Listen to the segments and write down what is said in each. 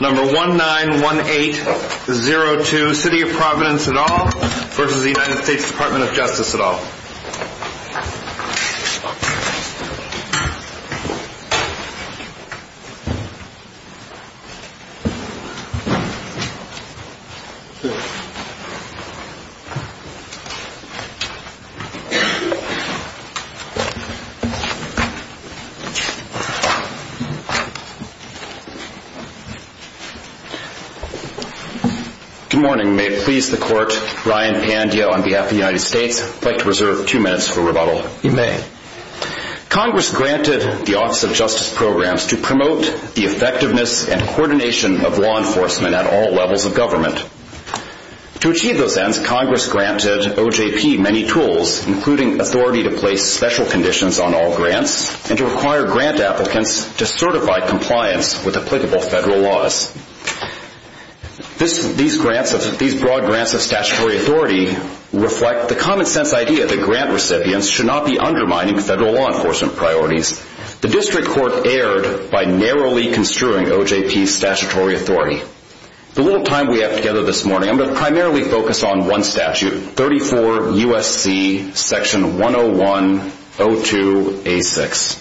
Number 191802 City of Providence et al. v. US Department of Justice et al. Good morning. May it please the Court, Ryan Pandya on behalf of the United States. I'd like to reserve two minutes for rebuttal. You may. Congress granted the Office of Justice Programs to promote the effectiveness and coordination of law enforcement at all levels of government. To achieve those ends, Congress granted OJP many tools, including authority to place special conditions on all grants and to require grant applicants to certify compliance with applicable federal laws. These broad grants of statutory authority reflect the common sense idea that grant recipients should not be undermining federal law enforcement priorities. The District Court erred by narrowly construing OJP's statutory authority. The little time we have together this morning, I'm going to primarily focus on one statute, 34 U.S.C. Section 101-02-A6.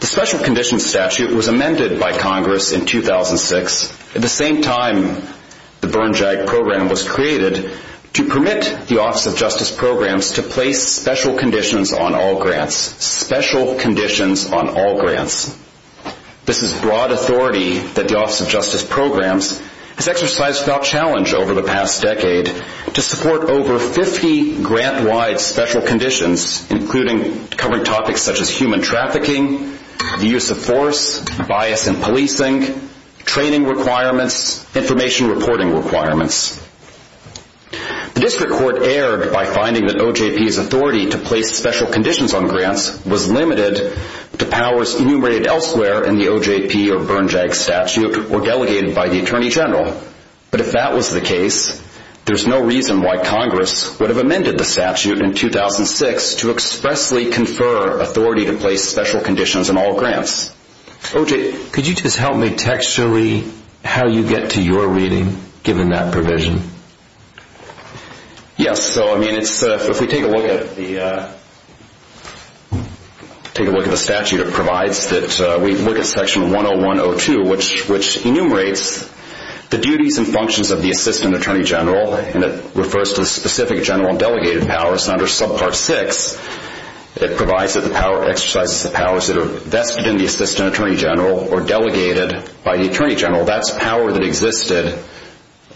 The Special Conditions Statute was amended by Congress in 2006, at the same time the Burn JAG Program was created, to permit the Office of Justice Programs to place special conditions on all grants. Special conditions on all grants. This is broad authority that the Office of Justice Programs has exercised without challenge over the past decade to support over 50 grant-wide special conditions, including covering topics such as human trafficking, the use of force, bias in policing, training requirements, information reporting requirements. The District Court erred by finding that OJP's authority to place special conditions on grants was limited to powers enumerated elsewhere in the OJP or Burn JAG statute or delegated by the Attorney General. But if that was the case, there's no reason why Congress would have amended the statute in 2006 to expressly confer authority to place special conditions on all grants. OJ, could you just help me texture-y how you get to your reading, given that provision? Yes. So, I mean, if we take a look at the statute, it provides that we look at Section 101-02, which enumerates the duties and functions of the Assistant Attorney General, and it refers to the specific general and delegated powers under Subpart 6. It provides that the power exercises the powers that are vested in the Assistant Attorney General or delegated by the Attorney General. That's power that existed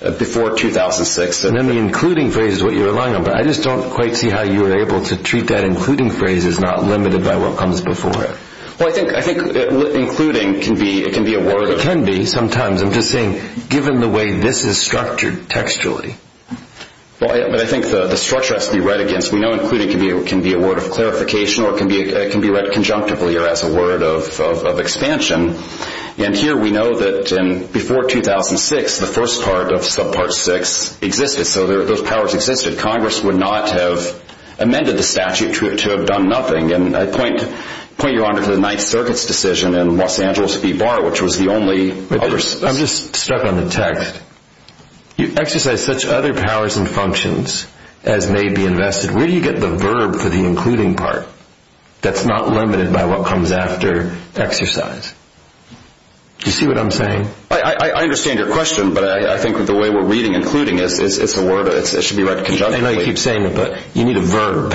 before 2006. And then the including phrase is what you're relying on, but I just don't quite see how you were able to treat that including phrase as not limited by what comes before it. Well, I think including can be a word. It can be sometimes. I'm just saying, given the way this is structured textually. Well, I think the structure has to be read against. We know including can be a word of clarification or it can be read conjunctively or as a word of expansion. And here we know that before 2006, the first part of Subpart 6 existed, so those powers existed. Congress would not have amended the statute to have done nothing. And I point Your Honor to the Ninth Circuit's decision in Los Angeles v. Barr, which was the only other... I'm just stuck on the text. You exercise such other powers and functions as may be invested. Where do you get the verb for the including part that's not limited by what comes after exercise? Do you see what I'm saying? I understand your question, but I think the way we're reading including, it's a word. It should be read conjunctively. I know you keep saying it, but you need a verb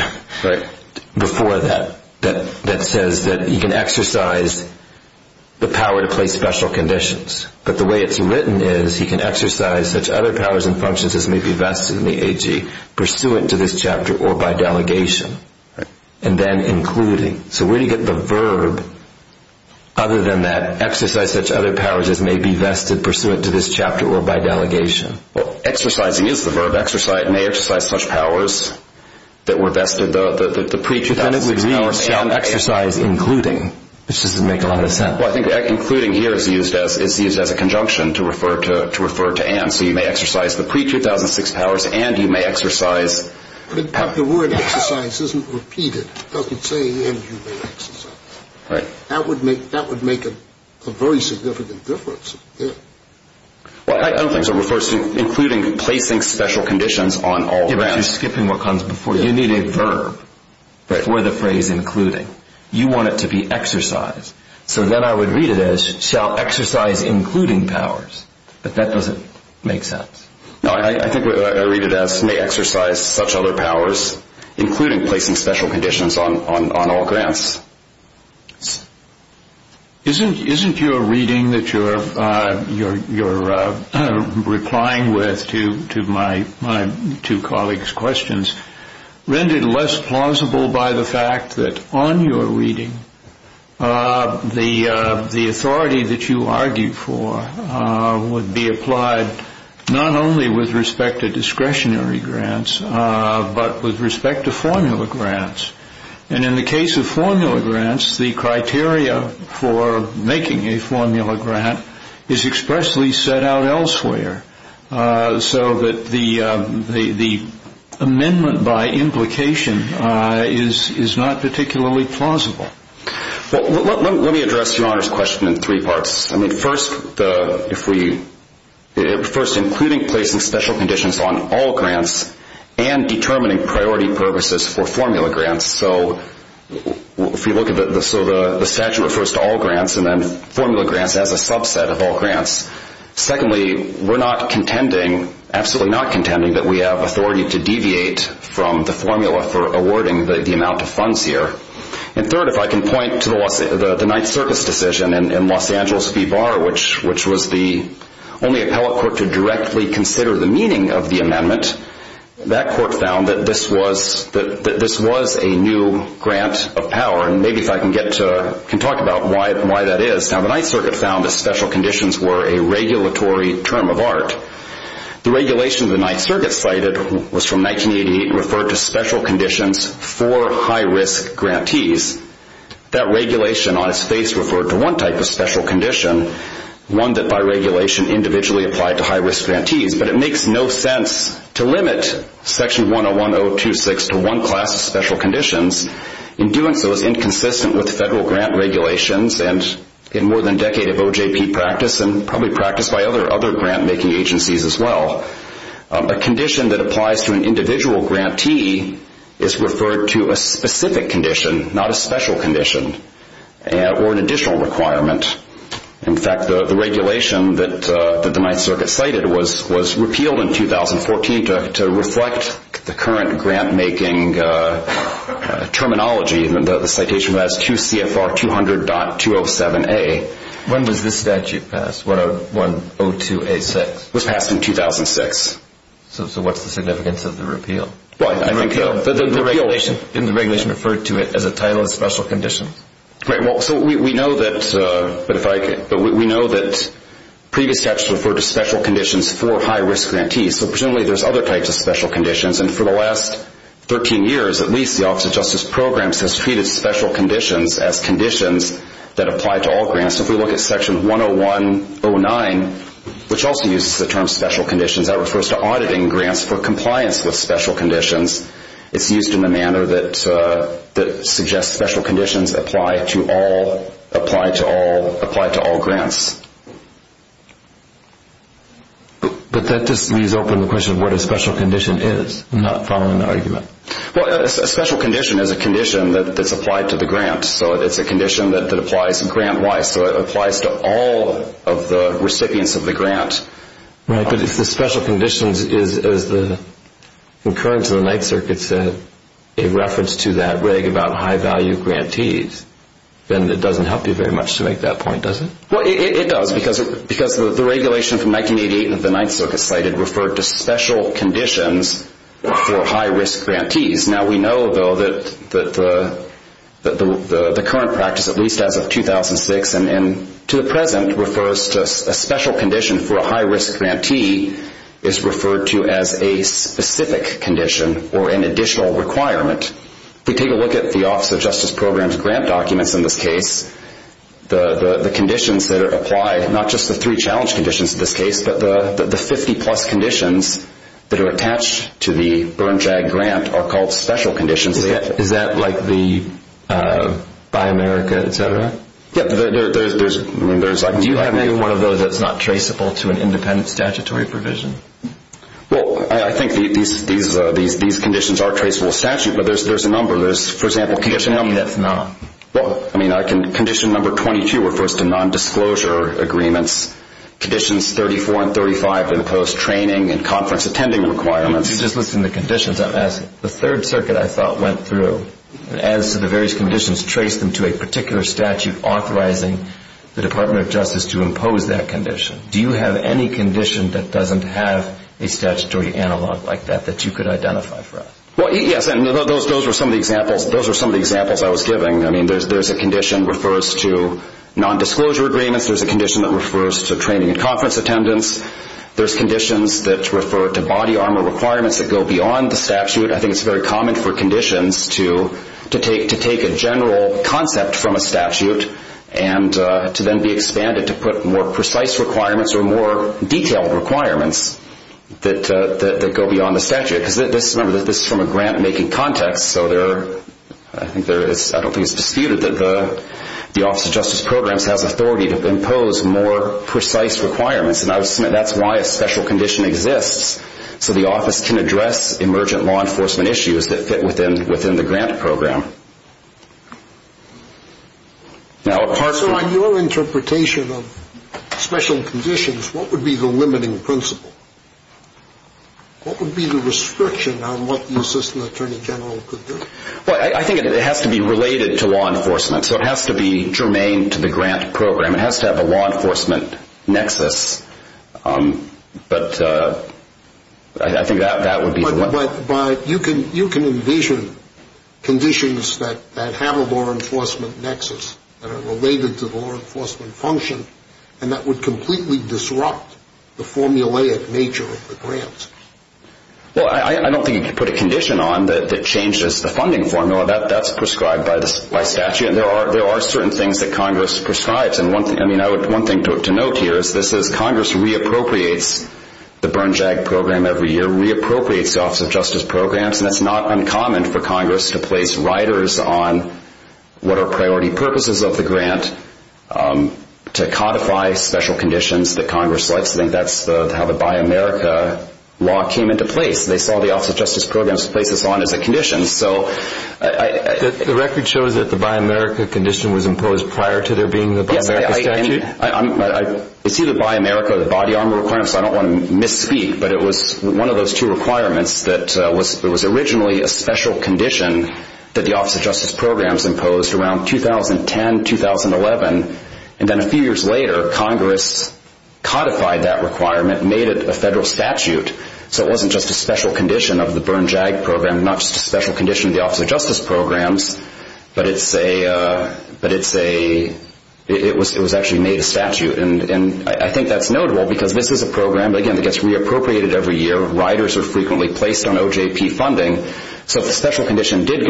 before that that says that you can exercise the power to place special conditions. But the way it's written is he can exercise such other powers and functions as may be vested in the AG, pursuant to this chapter or by delegation, and then including. So where do you get the verb other than that exercise such other powers as may be vested, pursuant to this chapter or by delegation? Well, exercising is the verb. Exercise may exercise such powers that were vested, the pre-2006 powers. But then it would read exercise including, which doesn't make a lot of sense. Well, I think including here is used as a conjunction to refer to Anne. So you may exercise the pre-2006 powers and you may exercise. But the word exercise isn't repeated. It doesn't say and you may exercise. Right. That would make a very significant difference here. Well, I don't think so. It refers to including placing special conditions on all the rounds. You're skipping what comes before. You need a verb for the phrase including. You want it to be exercise. So then I would read it as shall exercise including powers. But that doesn't make sense. No, I think what I read it as may exercise such other powers, including placing special conditions on all grants. Isn't your reading that you're replying with to my two colleagues' questions rendered less plausible by the fact that on your reading, the authority that you argue for would be applied not only with respect to discretionary grants but with respect to formula grants. And in the case of formula grants, the criteria for making a formula grant is expressly set out elsewhere so that the amendment by implication is not particularly plausible. Well, let me address Your Honor's question in three parts. I mean, first, including placing special conditions on all grants and determining priority purposes for formula grants. So if we look at the statute refers to all grants and then formula grants as a subset of all grants. Secondly, we're not contending, absolutely not contending, that we have authority to deviate from the formula for awarding the amount of funds here. And third, if I can point to the Ninth Circuit's decision in Los Angeles v. Barr, which was the only appellate court to directly consider the meaning of the amendment, that court found that this was a new grant of power. And maybe if I can talk about why that is. Now, the Ninth Circuit found that special conditions were a regulatory term of art. The regulation the Ninth Circuit cited was from 1988 and referred to special conditions for high-risk grantees. That regulation on its face referred to one type of special condition, one that by regulation individually applied to high-risk grantees. But it makes no sense to limit Section 101.026 to one class of special conditions. In doing so, it's inconsistent with federal grant regulations and in more than a decade of OJP practice and probably practice by other grant-making agencies as well. A condition that applies to an individual grantee is referred to a specific condition, not a special condition or an additional requirement. In fact, the regulation that the Ninth Circuit cited was repealed in 2014 to reflect the current grant-making terminology. The citation was QCFR 200.207A. When was this statute passed, 102A6? It was passed in 2006. So what's the significance of the repeal? The regulation referred to it as a title of special condition. We know that previous statutes referred to special conditions for high-risk grantees. So presumably there's other types of special conditions, and for the last 13 years at least the Office of Justice Programs has treated special conditions as conditions that apply to all grants. If we look at Section 101.09, which also uses the term special conditions, that refers to auditing grants for compliance with special conditions. It's used in a manner that suggests special conditions apply to all grants. But that just leaves open the question of what a special condition is. I'm not following the argument. Well, a special condition is a condition that's applied to the grant. So it's a condition that applies grant-wise. So it applies to all of the recipients of the grant. Right, but if the special condition is the occurrence of the Ninth Circuit said a reference to that reg about high-value grantees, then it doesn't help you very much to make that point, does it? Well, it does because the regulation from 1988 that the Ninth Circuit cited referred to special conditions for high-risk grantees. Now we know, though, that the current practice, at least as of 2006 and to the present, refers to a special condition for a high-risk grantee is referred to as a specific condition or an additional requirement. If we take a look at the Office of Justice Programs grant documents in this case, the conditions that are applied, not just the three challenge conditions in this case, but the 50-plus conditions that are attached to the Burn-Drag grant are called special conditions. Is that like the Buy America, et cetera? Yeah, there's like a number. Do you have any one of those that's not traceable to an independent statutory provision? Well, I think these conditions are traceable to statute, but there's a number. For example, can you just tell me that's not? Well, I mean, condition number 22 refers to nondisclosure agreements. Conditions 34 and 35 impose training and conference attending requirements. If you just listen to conditions, I'm asking. The Third Circuit, I thought, went through and as to the various conditions, traced them to a particular statute authorizing the Department of Justice to impose that condition. Do you have any condition that doesn't have a statutory analog like that that you could identify for us? Well, yes, and those are some of the examples I was giving. I mean, there's a condition that refers to nondisclosure agreements. There's a condition that refers to training and conference attendance. There's conditions that refer to body armor requirements that go beyond the statute. I think it's very common for conditions to take a general concept from a statute and to then be expanded to put more precise requirements or more detailed requirements that go beyond the statute. Remember, this is from a grant-making context, so I don't think it's disputed that the Office of Justice Programs has authority to impose more precise requirements, and I would submit that's why a special condition exists, so the office can address emergent law enforcement issues that fit within the grant program. So on your interpretation of special conditions, what would be the limiting principle? What would be the restriction on what the assistant attorney general could do? Well, I think it has to be related to law enforcement, so it has to be germane to the grant program. It has to have a law enforcement nexus, but I think that would be the one. But you can envision conditions that have a law enforcement nexus that are related to the law enforcement function and that would completely disrupt the formulaic nature of the grants. Well, I don't think you could put a condition on that changes the funding formula. That's prescribed by statute, and there are certain things that Congress prescribes, and one thing to note here is this is Congress re-appropriates the burn-jag program every year, re-appropriates the Office of Justice Programs, and it's not uncommon for Congress to place riders on what are priority purposes of the grant to codify special conditions that Congress likes. I think that's how the Buy America law came into place. They saw the Office of Justice Programs to place us on as a condition. The record shows that the Buy America condition was imposed prior to there being the Buy America statute? Yes, I see the Buy America body armor requirements, so I don't want to misspeak, but it was one of those two requirements that was originally a special condition that the Office of Justice Programs imposed around 2010, 2011, and then a few years later Congress codified that requirement and made it a federal statute, so it wasn't just a special condition of the burn-jag program, not just a special condition of the Office of Justice Programs, but it was actually made a statute, and I think that's notable because this is a program, again, that gets re-appropriated every year, riders are frequently placed on OJP funding, so if the special condition did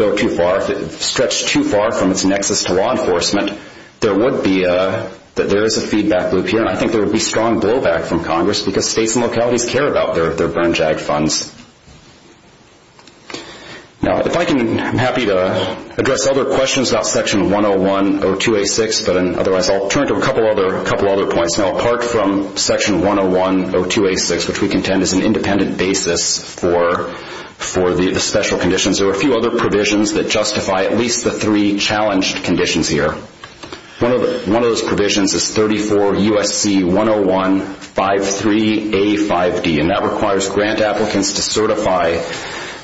stretch too far from its nexus to law enforcement, there is a feedback loop here, and I think there would be strong blowback from Congress because states and localities care about their burn-jag funds. I'm happy to address other questions about Section 101-02-86, but otherwise I'll turn to a couple other points. Now apart from Section 101-02-86, which we contend is an independent basis for the special conditions, there are a few other provisions that justify at least the three challenged conditions here. One of those provisions is 34 U.S.C. 101-53-85D, and that requires grant applicants to certify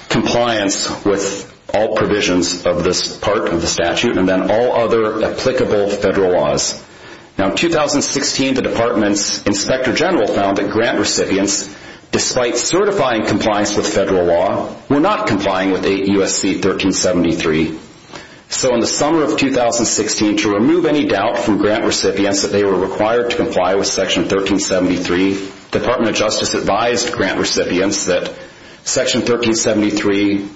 compliance with all provisions of this part of the statute and then all other applicable federal laws. Now in 2016, the Department's Inspector General found that grant recipients, despite certifying compliance with federal law, were not complying with 8 U.S.C. 1373. So in the summer of 2016, to remove any doubt from grant recipients that they were required to comply with Section 1373, the Department of Justice advised grant recipients that Section 1373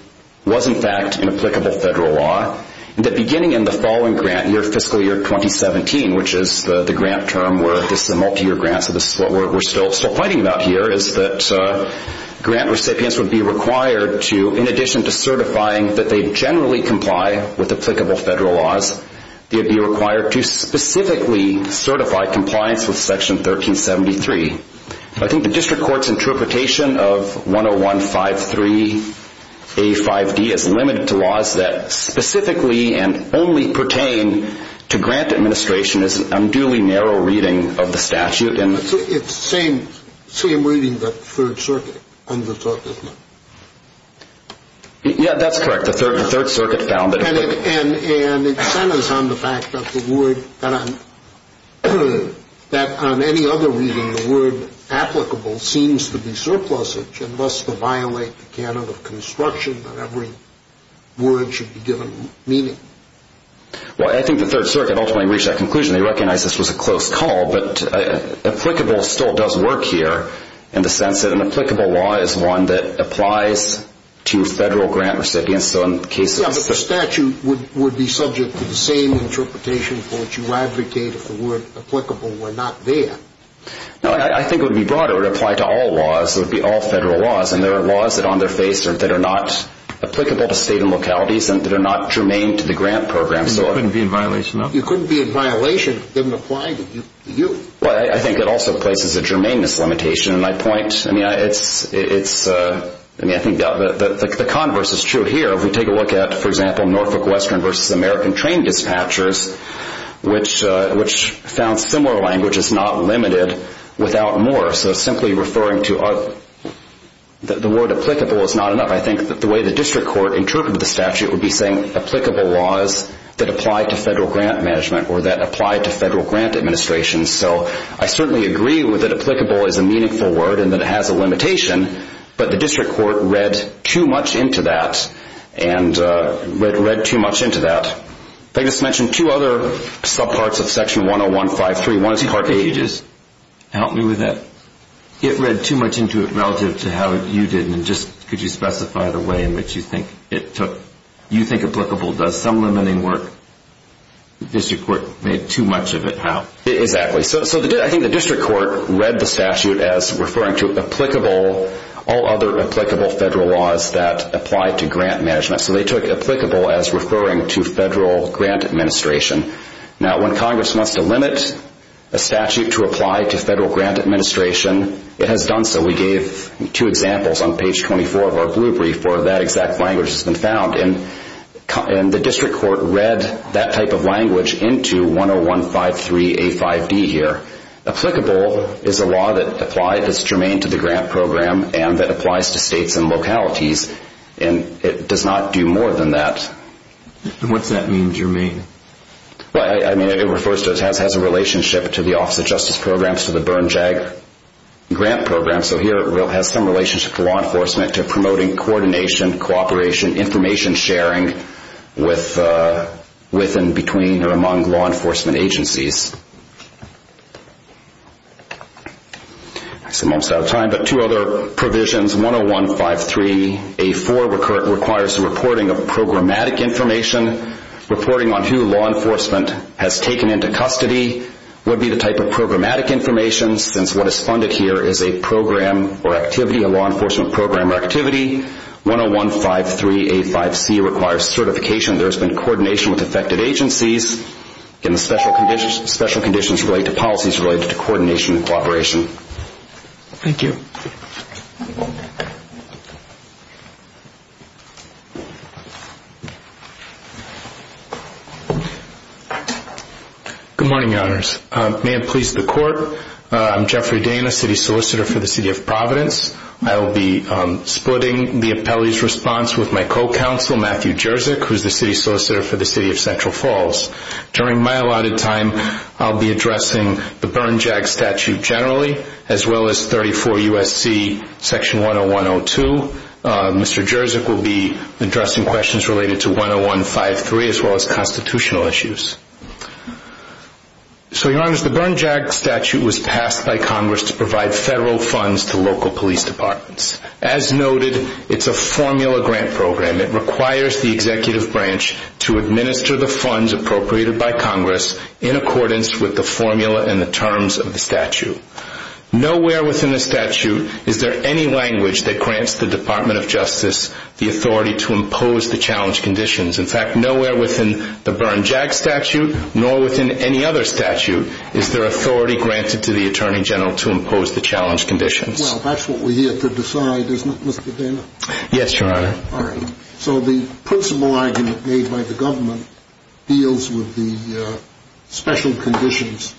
was in fact an applicable federal law and that beginning in the following grant year, fiscal year 2017, which is the grant term where this is a multi-year grant, so this is what we're still fighting about here, is that grant recipients would be required to, in addition to certifying that they generally comply with applicable federal laws, they would be required to specifically certify compliance with Section 1373. I think the district court's interpretation of 101-53-85D is limited to laws that specifically and only pertain to grant administration is an unduly narrow reading of the statute. It's the same reading that the Third Circuit undertook, isn't it? Yeah, that's correct. And it centers on the fact that on any other reading, the word applicable seems to be surplusage and thus to violate the canon of construction that every word should be given meaning. Well, I think the Third Circuit ultimately reached that conclusion. They recognized this was a close call, but applicable still does work here in the sense that an applicable law is one that applies to federal grant recipients. Yeah, but the statute would be subject to the same interpretation for which you advocate if the word applicable were not there. No, I think it would be broader. It would apply to all laws. It would be all federal laws, and there are laws that are on their face that are not applicable to state and localities and that are not germane to the grant program. And you couldn't be in violation of them? You couldn't be in violation if they didn't apply to you. Well, I think it also places a germaneness limitation. I mean, I think the converse is true here. If we take a look at, for example, Norfolk Western v. American Train Dispatchers, which found similar language is not limited without more. So simply referring to the word applicable is not enough. I think that the way the district court interpreted the statute would be saying that applied to federal grant management or that applied to federal grant administration. So I certainly agree that applicable is a meaningful word and that it has a limitation, but the district court read too much into that and read too much into that. They just mentioned two other subparts of Section 101.5.3. Help me with that. It read too much into it relative to how you did, and just could you specify the way in which you think it took, you think applicable does some limiting work? The district court made too much of it how? Exactly. So I think the district court read the statute as referring to applicable, all other applicable federal laws that apply to grant management. So they took applicable as referring to federal grant administration. Now, when Congress wants to limit a statute to apply to federal grant administration, it has done so. We gave two examples on page 24 of our blue brief where that exact language has been found, and the district court read that type of language into 101.5.3.A.5.D. here. Applicable is a law that's germane to the grant program and that applies to states and localities, and it does not do more than that. What's that mean, germane? It refers to it has a relationship to the Office of Justice Programs, and it applies to the Bern JAG grant program. So here it has some relationship to law enforcement, to promoting coordination, cooperation, information sharing with and between or among law enforcement agencies. I'm almost out of time, but two other provisions, 101.5.3.A.4. requires the reporting of programmatic information. Reporting on who law enforcement has taken into custody would be the type of programmatic information, since what is funded here is a program or activity, a law enforcement program or activity. 101.5.3.A.5.C. requires certification. There has been coordination with affected agencies, and the special conditions relate to policies related to coordination and cooperation. Thank you. Good morning, Your Honors. May it please the Court, I'm Jeffrey Dana, City Solicitor for the City of Providence. I will be splitting the appellee's response with my co-counsel, Matthew Jerzyk, who is the City Solicitor for the City of Central Falls. During my allotted time, I'll be addressing the Bern JAG statute generally, as well as 34 U.S.C. Section 101.02. Mr. Jerzyk will be addressing questions related to 101.5.3, as well as constitutional issues. So, Your Honors, the Bern JAG statute was passed by Congress to provide federal funds to local police departments. As noted, it's a formula grant program. It requires the executive branch to administer the funds appropriated by Congress in accordance with the formula and the terms of the statute. Nowhere within the statute is there any language that grants the Department of Justice the authority to impose the challenge conditions. In fact, nowhere within the Bern JAG statute, nor within any other statute, is there authority granted to the Attorney General to impose the challenge conditions. Well, that's what we're here to decide, isn't it, Mr. Dana? Yes, Your Honor. So the principal argument made by the government deals with the special conditions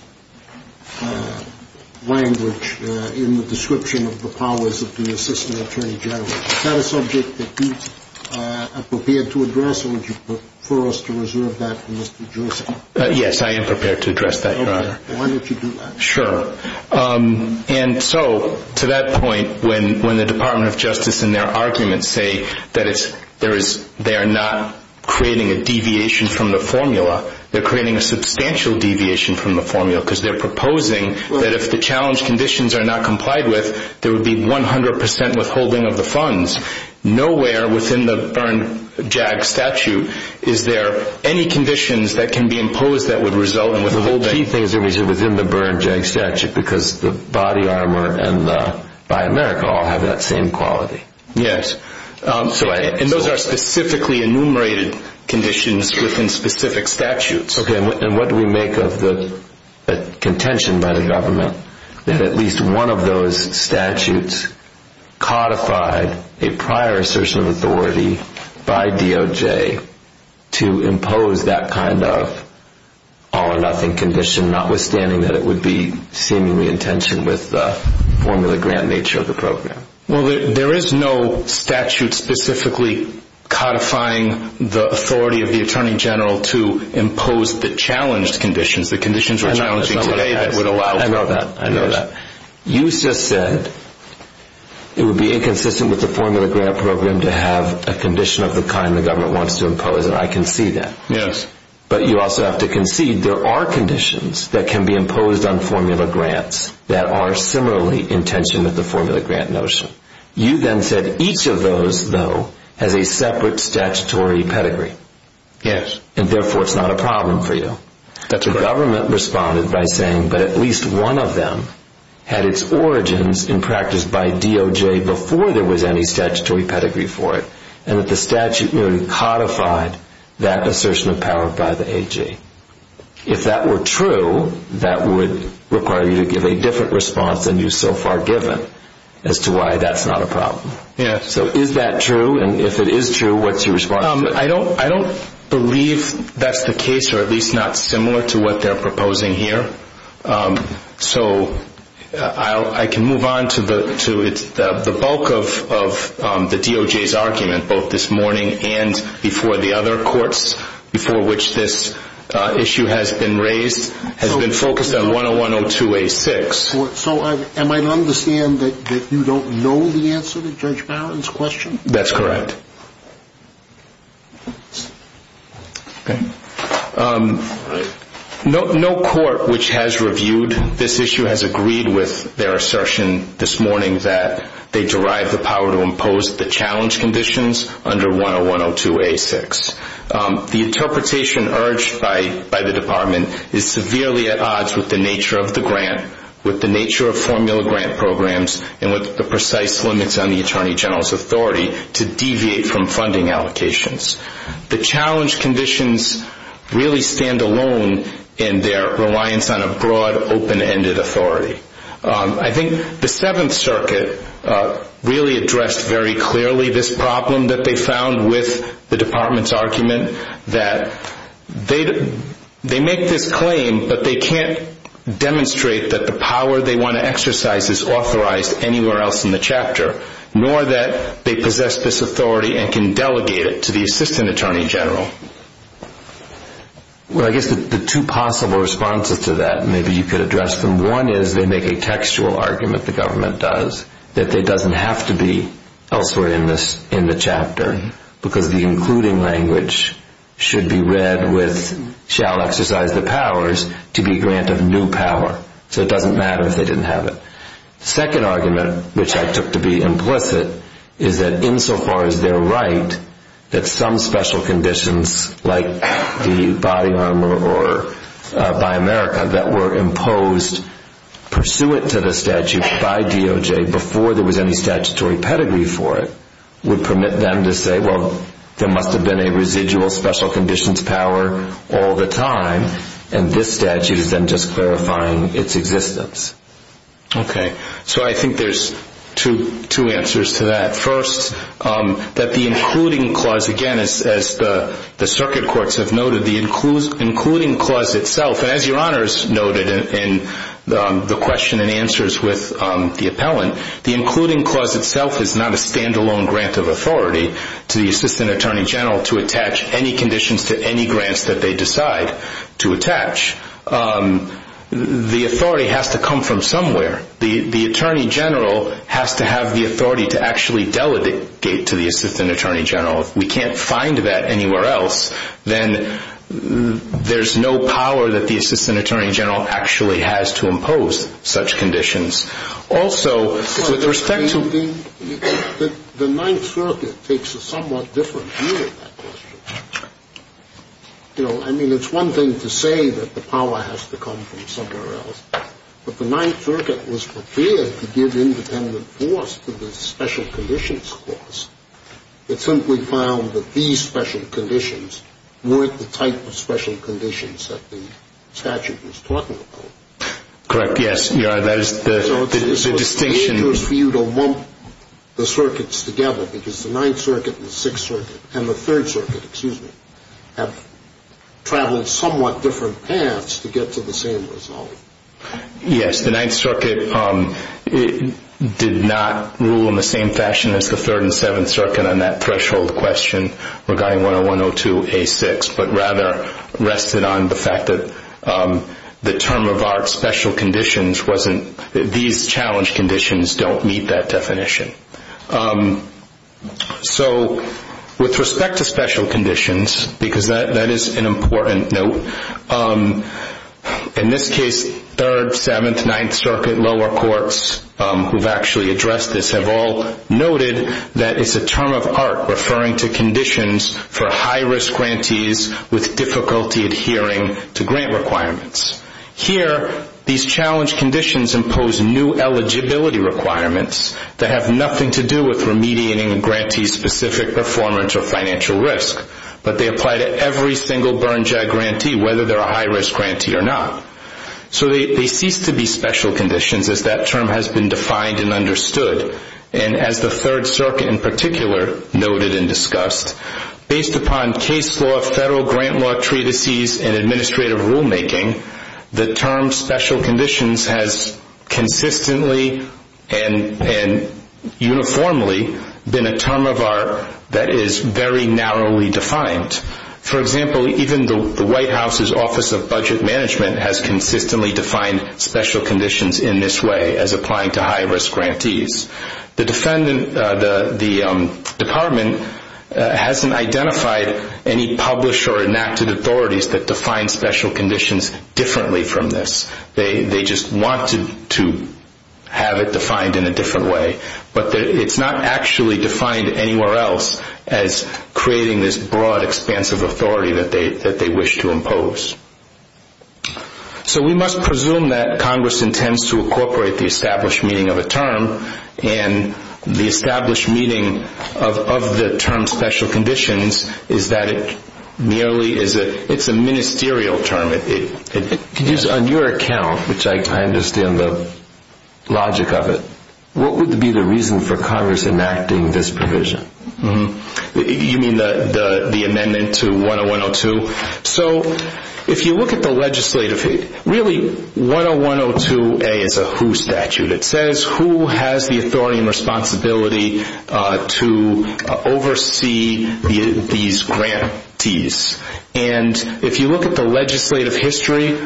language in the description of the powers of the Assistant Attorney General. Is that a subject that you are prepared to address, or would you prefer us to reserve that for Mr. Jerzyk? Yes, I am prepared to address that, Your Honor. Okay. Why don't you do that? Sure. And so to that point, when the Department of Justice in their arguments say that they are not creating a deviation from the formula, they're creating a substantial deviation from the formula because they're proposing that if the challenge conditions are not complied with, there would be 100 percent withholding of the funds. Nowhere within the Bern JAG statute is there any conditions that can be imposed that would result in withholding. The key thing is within the Bern JAG statute because the body armor and the Buy America all have that same quality. Yes. And those are specifically enumerated conditions within specific statutes. Okay. And what do we make of the contention by the government that at least one of those statutes codified a prior assertion of authority by DOJ to impose that kind of all-or-nothing condition, notwithstanding that it would be seemingly in tension with the formula grant nature of the program? Well, there is no statute specifically codifying the authority of the Attorney General to impose the challenged conditions, the conditions we're challenging today that would allow for that. I know that. I know that. You just said it would be inconsistent with the formula grant program to have a condition of the kind the government wants to impose, and I can see that. Yes. But you also have to concede there are conditions that can be imposed on formula grants that are similarly in tension with the formula grant notion. You then said each of those, though, has a separate statutory pedigree. Yes. And therefore it's not a problem for you. That's correct. The government responded by saying that at least one of them had its origins in practice by DOJ before there was any statutory pedigree for it, and that the statute merely codified that assertion of power by the AG. If that were true, that would require you to give a different response than you've so far given as to why that's not a problem. Yes. So is that true, and if it is true, what's your response to it? I don't believe that's the case, or at least not similar to what they're proposing here. So I can move on to the bulk of the DOJ's argument, both this morning and before the other courts, before which this issue has been raised, has been focused on 101-02-A-6. So am I to understand that you don't know the answer to Judge Barron's question? That's correct. Okay. No court which has reviewed this issue has agreed with their assertion this morning that they derive the power to impose the challenge conditions under 101-02-A-6. The interpretation urged by the Department is severely at odds with the nature of the grant, with the nature of formula grant programs, and with the precise limits on the Attorney General's authority to deviate from funding allocations. The challenge conditions really stand alone in their reliance on a broad, open-ended authority. I think the Seventh Circuit really addressed very clearly this problem that they found with the Department's argument that they make this claim, but they can't demonstrate that the power they want to exercise is authorized anywhere else in the chapter, nor that they possess this authority and can delegate it to the Assistant Attorney General. Well, I guess the two possible responses to that, maybe you could address them. One is they make a textual argument, the government does, that it doesn't have to be elsewhere in the chapter, because the including language should be read with, shall exercise the powers to be grant of new power. So it doesn't matter if they didn't have it. The second argument, which I took to be implicit, is that insofar as they're right that some special conditions, like the body armor by America that were imposed pursuant to the statute by DOJ before there was any statutory pedigree for it, would permit them to say, well, there must have been a residual special conditions power all the time, and this statute is then just clarifying its existence. Okay. So I think there's two answers to that. First, that the including clause, again, as the circuit courts have noted, the including clause itself, and as Your Honors noted in the question and answers with the appellant, the including clause itself is not a stand-alone grant of authority to the Assistant Attorney General to attach any conditions to any grants that they decide to attach. The authority has to come from somewhere. The Attorney General has to have the authority to actually delegate to the Assistant Attorney General. If we can't find that anywhere else, then there's no power that the Assistant Attorney General actually has to impose such conditions. Also, with respect to the ninth circuit takes a somewhat different view of that question. You know, I mean, it's one thing to say that the power has to come from somewhere else, but the ninth circuit was prepared to give independent force to the special conditions clause. It simply found that these special conditions weren't the type of special conditions that the statute was talking about. Correct. Yes. That is the distinction. So it's dangerous for you to lump the circuits together, because the ninth circuit and the sixth circuit and the third circuit, excuse me, have traveled somewhat different paths to get to the same result. Yes, the ninth circuit did not rule in the same fashion as the third and seventh circuit on that threshold question regarding 101-02-A6, but rather rested on the fact that the term of art special conditions wasn't, these challenge conditions don't meet that definition. So with respect to special conditions, because that is an important note, in this case, third, seventh, ninth circuit, lower courts, who have actually addressed this, have all noted that it's a term of art referring to conditions for high-risk grantees with difficulty adhering to grant requirements. Here, these challenge conditions impose new eligibility requirements that have nothing to do with remediating a grantee's specific performance or financial risk, but they apply to every single burn-jag grantee, whether they're a high-risk grantee or not. So they cease to be special conditions as that term has been defined and understood. And as the third circuit in particular noted and discussed, based upon case law, federal grant law treatises, and administrative rulemaking, the term special conditions has consistently and uniformly been a term of art that is very narrowly defined. For example, even the White House's Office of Budget Management has consistently defined special conditions in this way as applying to high-risk grantees. The department hasn't identified any published or enacted authorities that define special conditions differently from this. They just want to have it defined in a different way. But it's not actually defined anywhere else as creating this broad, expansive authority that they wish to impose. So we must presume that Congress intends to incorporate the established meaning of a term, and the established meaning of the term special conditions is that it merely is a ministerial term. On your account, which I understand the logic of it, what would be the reason for Congress enacting this provision? You mean the amendment to 10102? So if you look at the legislative, really 10102A is a who statute. It says who has the authority and responsibility to oversee these grantees. And if you look at the legislative history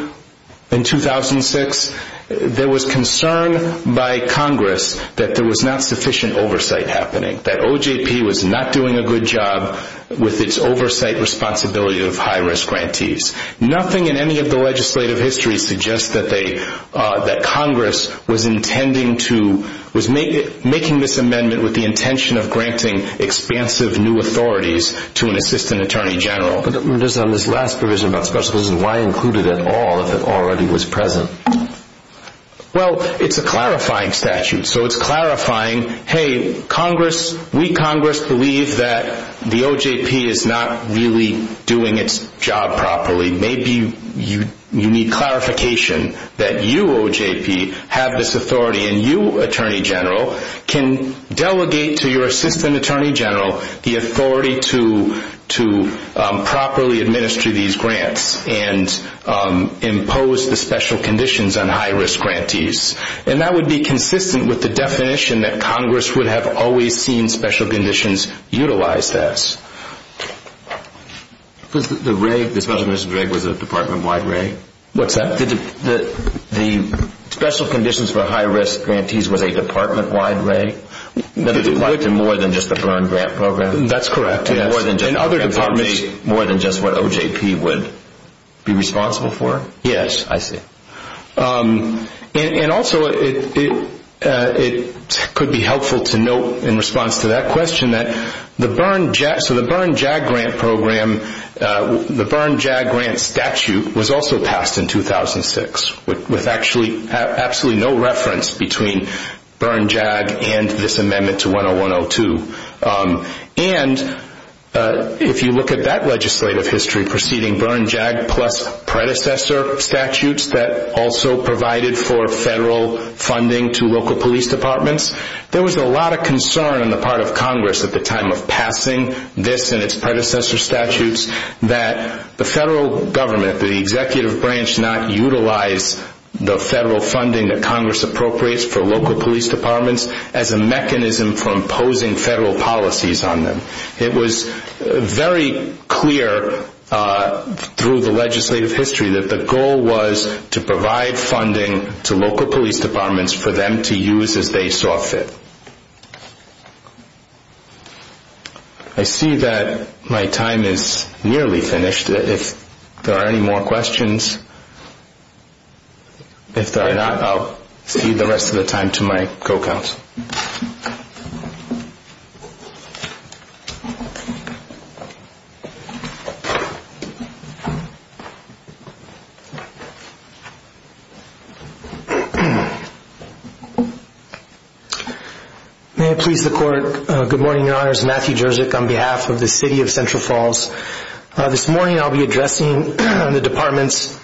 in 2006, there was concern by Congress that there was not sufficient oversight happening, that OJP was not doing a good job with its oversight responsibility of high-risk grantees. Nothing in any of the legislative history suggests that Congress was making this amendment with the intention of granting expansive new authorities to an assistant attorney general. But on this last provision about special conditions, why include it at all if it already was present? Well, it's a clarifying statute. So it's clarifying, hey, we, Congress, believe that the OJP is not really doing its job properly. Maybe you need clarification that you, OJP, have this authority, and you, Attorney General, can delegate to your assistant attorney general the authority to properly administer these grants and impose the special conditions on high-risk grantees. And that would be consistent with the definition that Congress would have always seen special conditions utilized as. The special conditions reg was a department-wide reg? What's that? The special conditions for high-risk grantees was a department-wide reg? More than just the Byrne Grant Program? That's correct. More than just what OJP would be responsible for? Yes. I see. And also, it could be helpful to note in response to that question that the Byrne JAG Grant Program, the Byrne JAG Grant statute was also passed in 2006 with absolutely no reference between Byrne JAG and this amendment to 101-02. And if you look at that legislative history preceding Byrne JAG plus predecessor statutes that also provided for federal funding to local police departments, there was a lot of concern on the part of Congress at the time of passing this and its predecessor statutes that the federal government, the executive branch not utilize the federal funding that Congress appropriates for local police departments as a mechanism for imposing federal policies on them. It was very clear through the legislative history that the goal was to provide funding to local police departments for them to use as they saw fit. I see that my time is nearly finished. If there are any more questions, if there are not, I'll cede the rest of the time to my co-counsel. May it please the Court. Good morning, Your Honors. Matthew Jerzyk on behalf of the City of Central Falls. This morning I'll be addressing the department's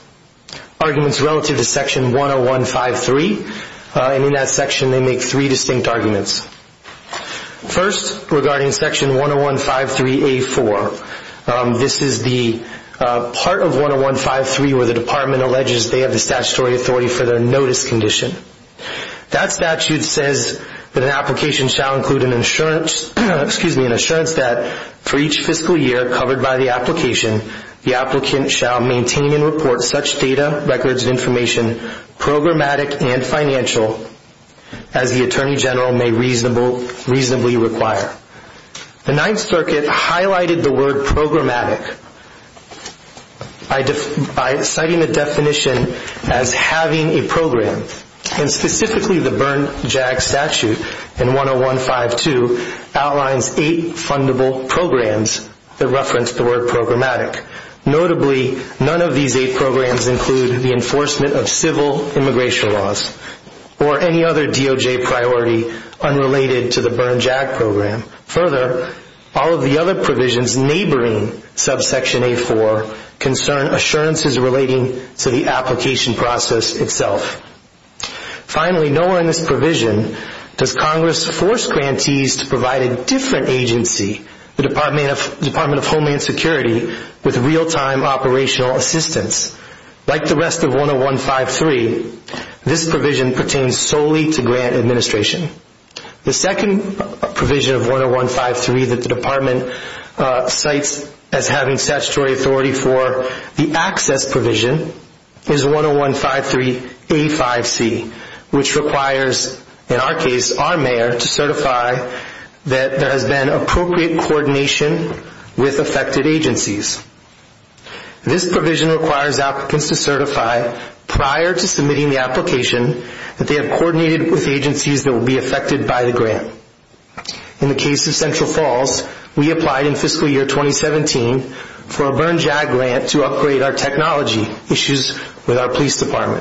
arguments relative to Section 101-53. And in that section they make three distinct arguments. First, regarding Section 101-53A-4. This is the part of 101-53 where the department alleges they have the statutory authority for their notice condition. That statute says that an application shall include an assurance that for each fiscal year covered by the application, the applicant shall maintain and report such data, records of information, programmatic and financial, as the Attorney General may reasonably require. The Ninth Circuit highlighted the word programmatic by citing the definition as having a program. And specifically the Bern JAG statute in 101-52 outlines eight fundable programs that reference the word programmatic. Notably, none of these eight programs include the enforcement of civil immigration laws or any other DOJ priority unrelated to the Bern JAG program. Further, all of the other provisions neighboring subsection A-4 concern assurances relating to the application process itself. Finally, nowhere in this provision does Congress force grantees to provide a different agency, the Department of Homeland Security, with real-time operational assistance. Like the rest of 101-53, this provision pertains solely to grant administration. The second provision of 101-53 that the department cites as having statutory authority for the access provision is 101-53A-5C, which requires, in our case, our mayor to certify that there has been appropriate coordination with affected agencies. This provision requires applicants to certify prior to submitting the application that they have coordinated with agencies that will be affected by the grant. In the case of Central Falls, we applied in fiscal year 2017 for a Bern JAG grant to upgrade our technology issues with our police department.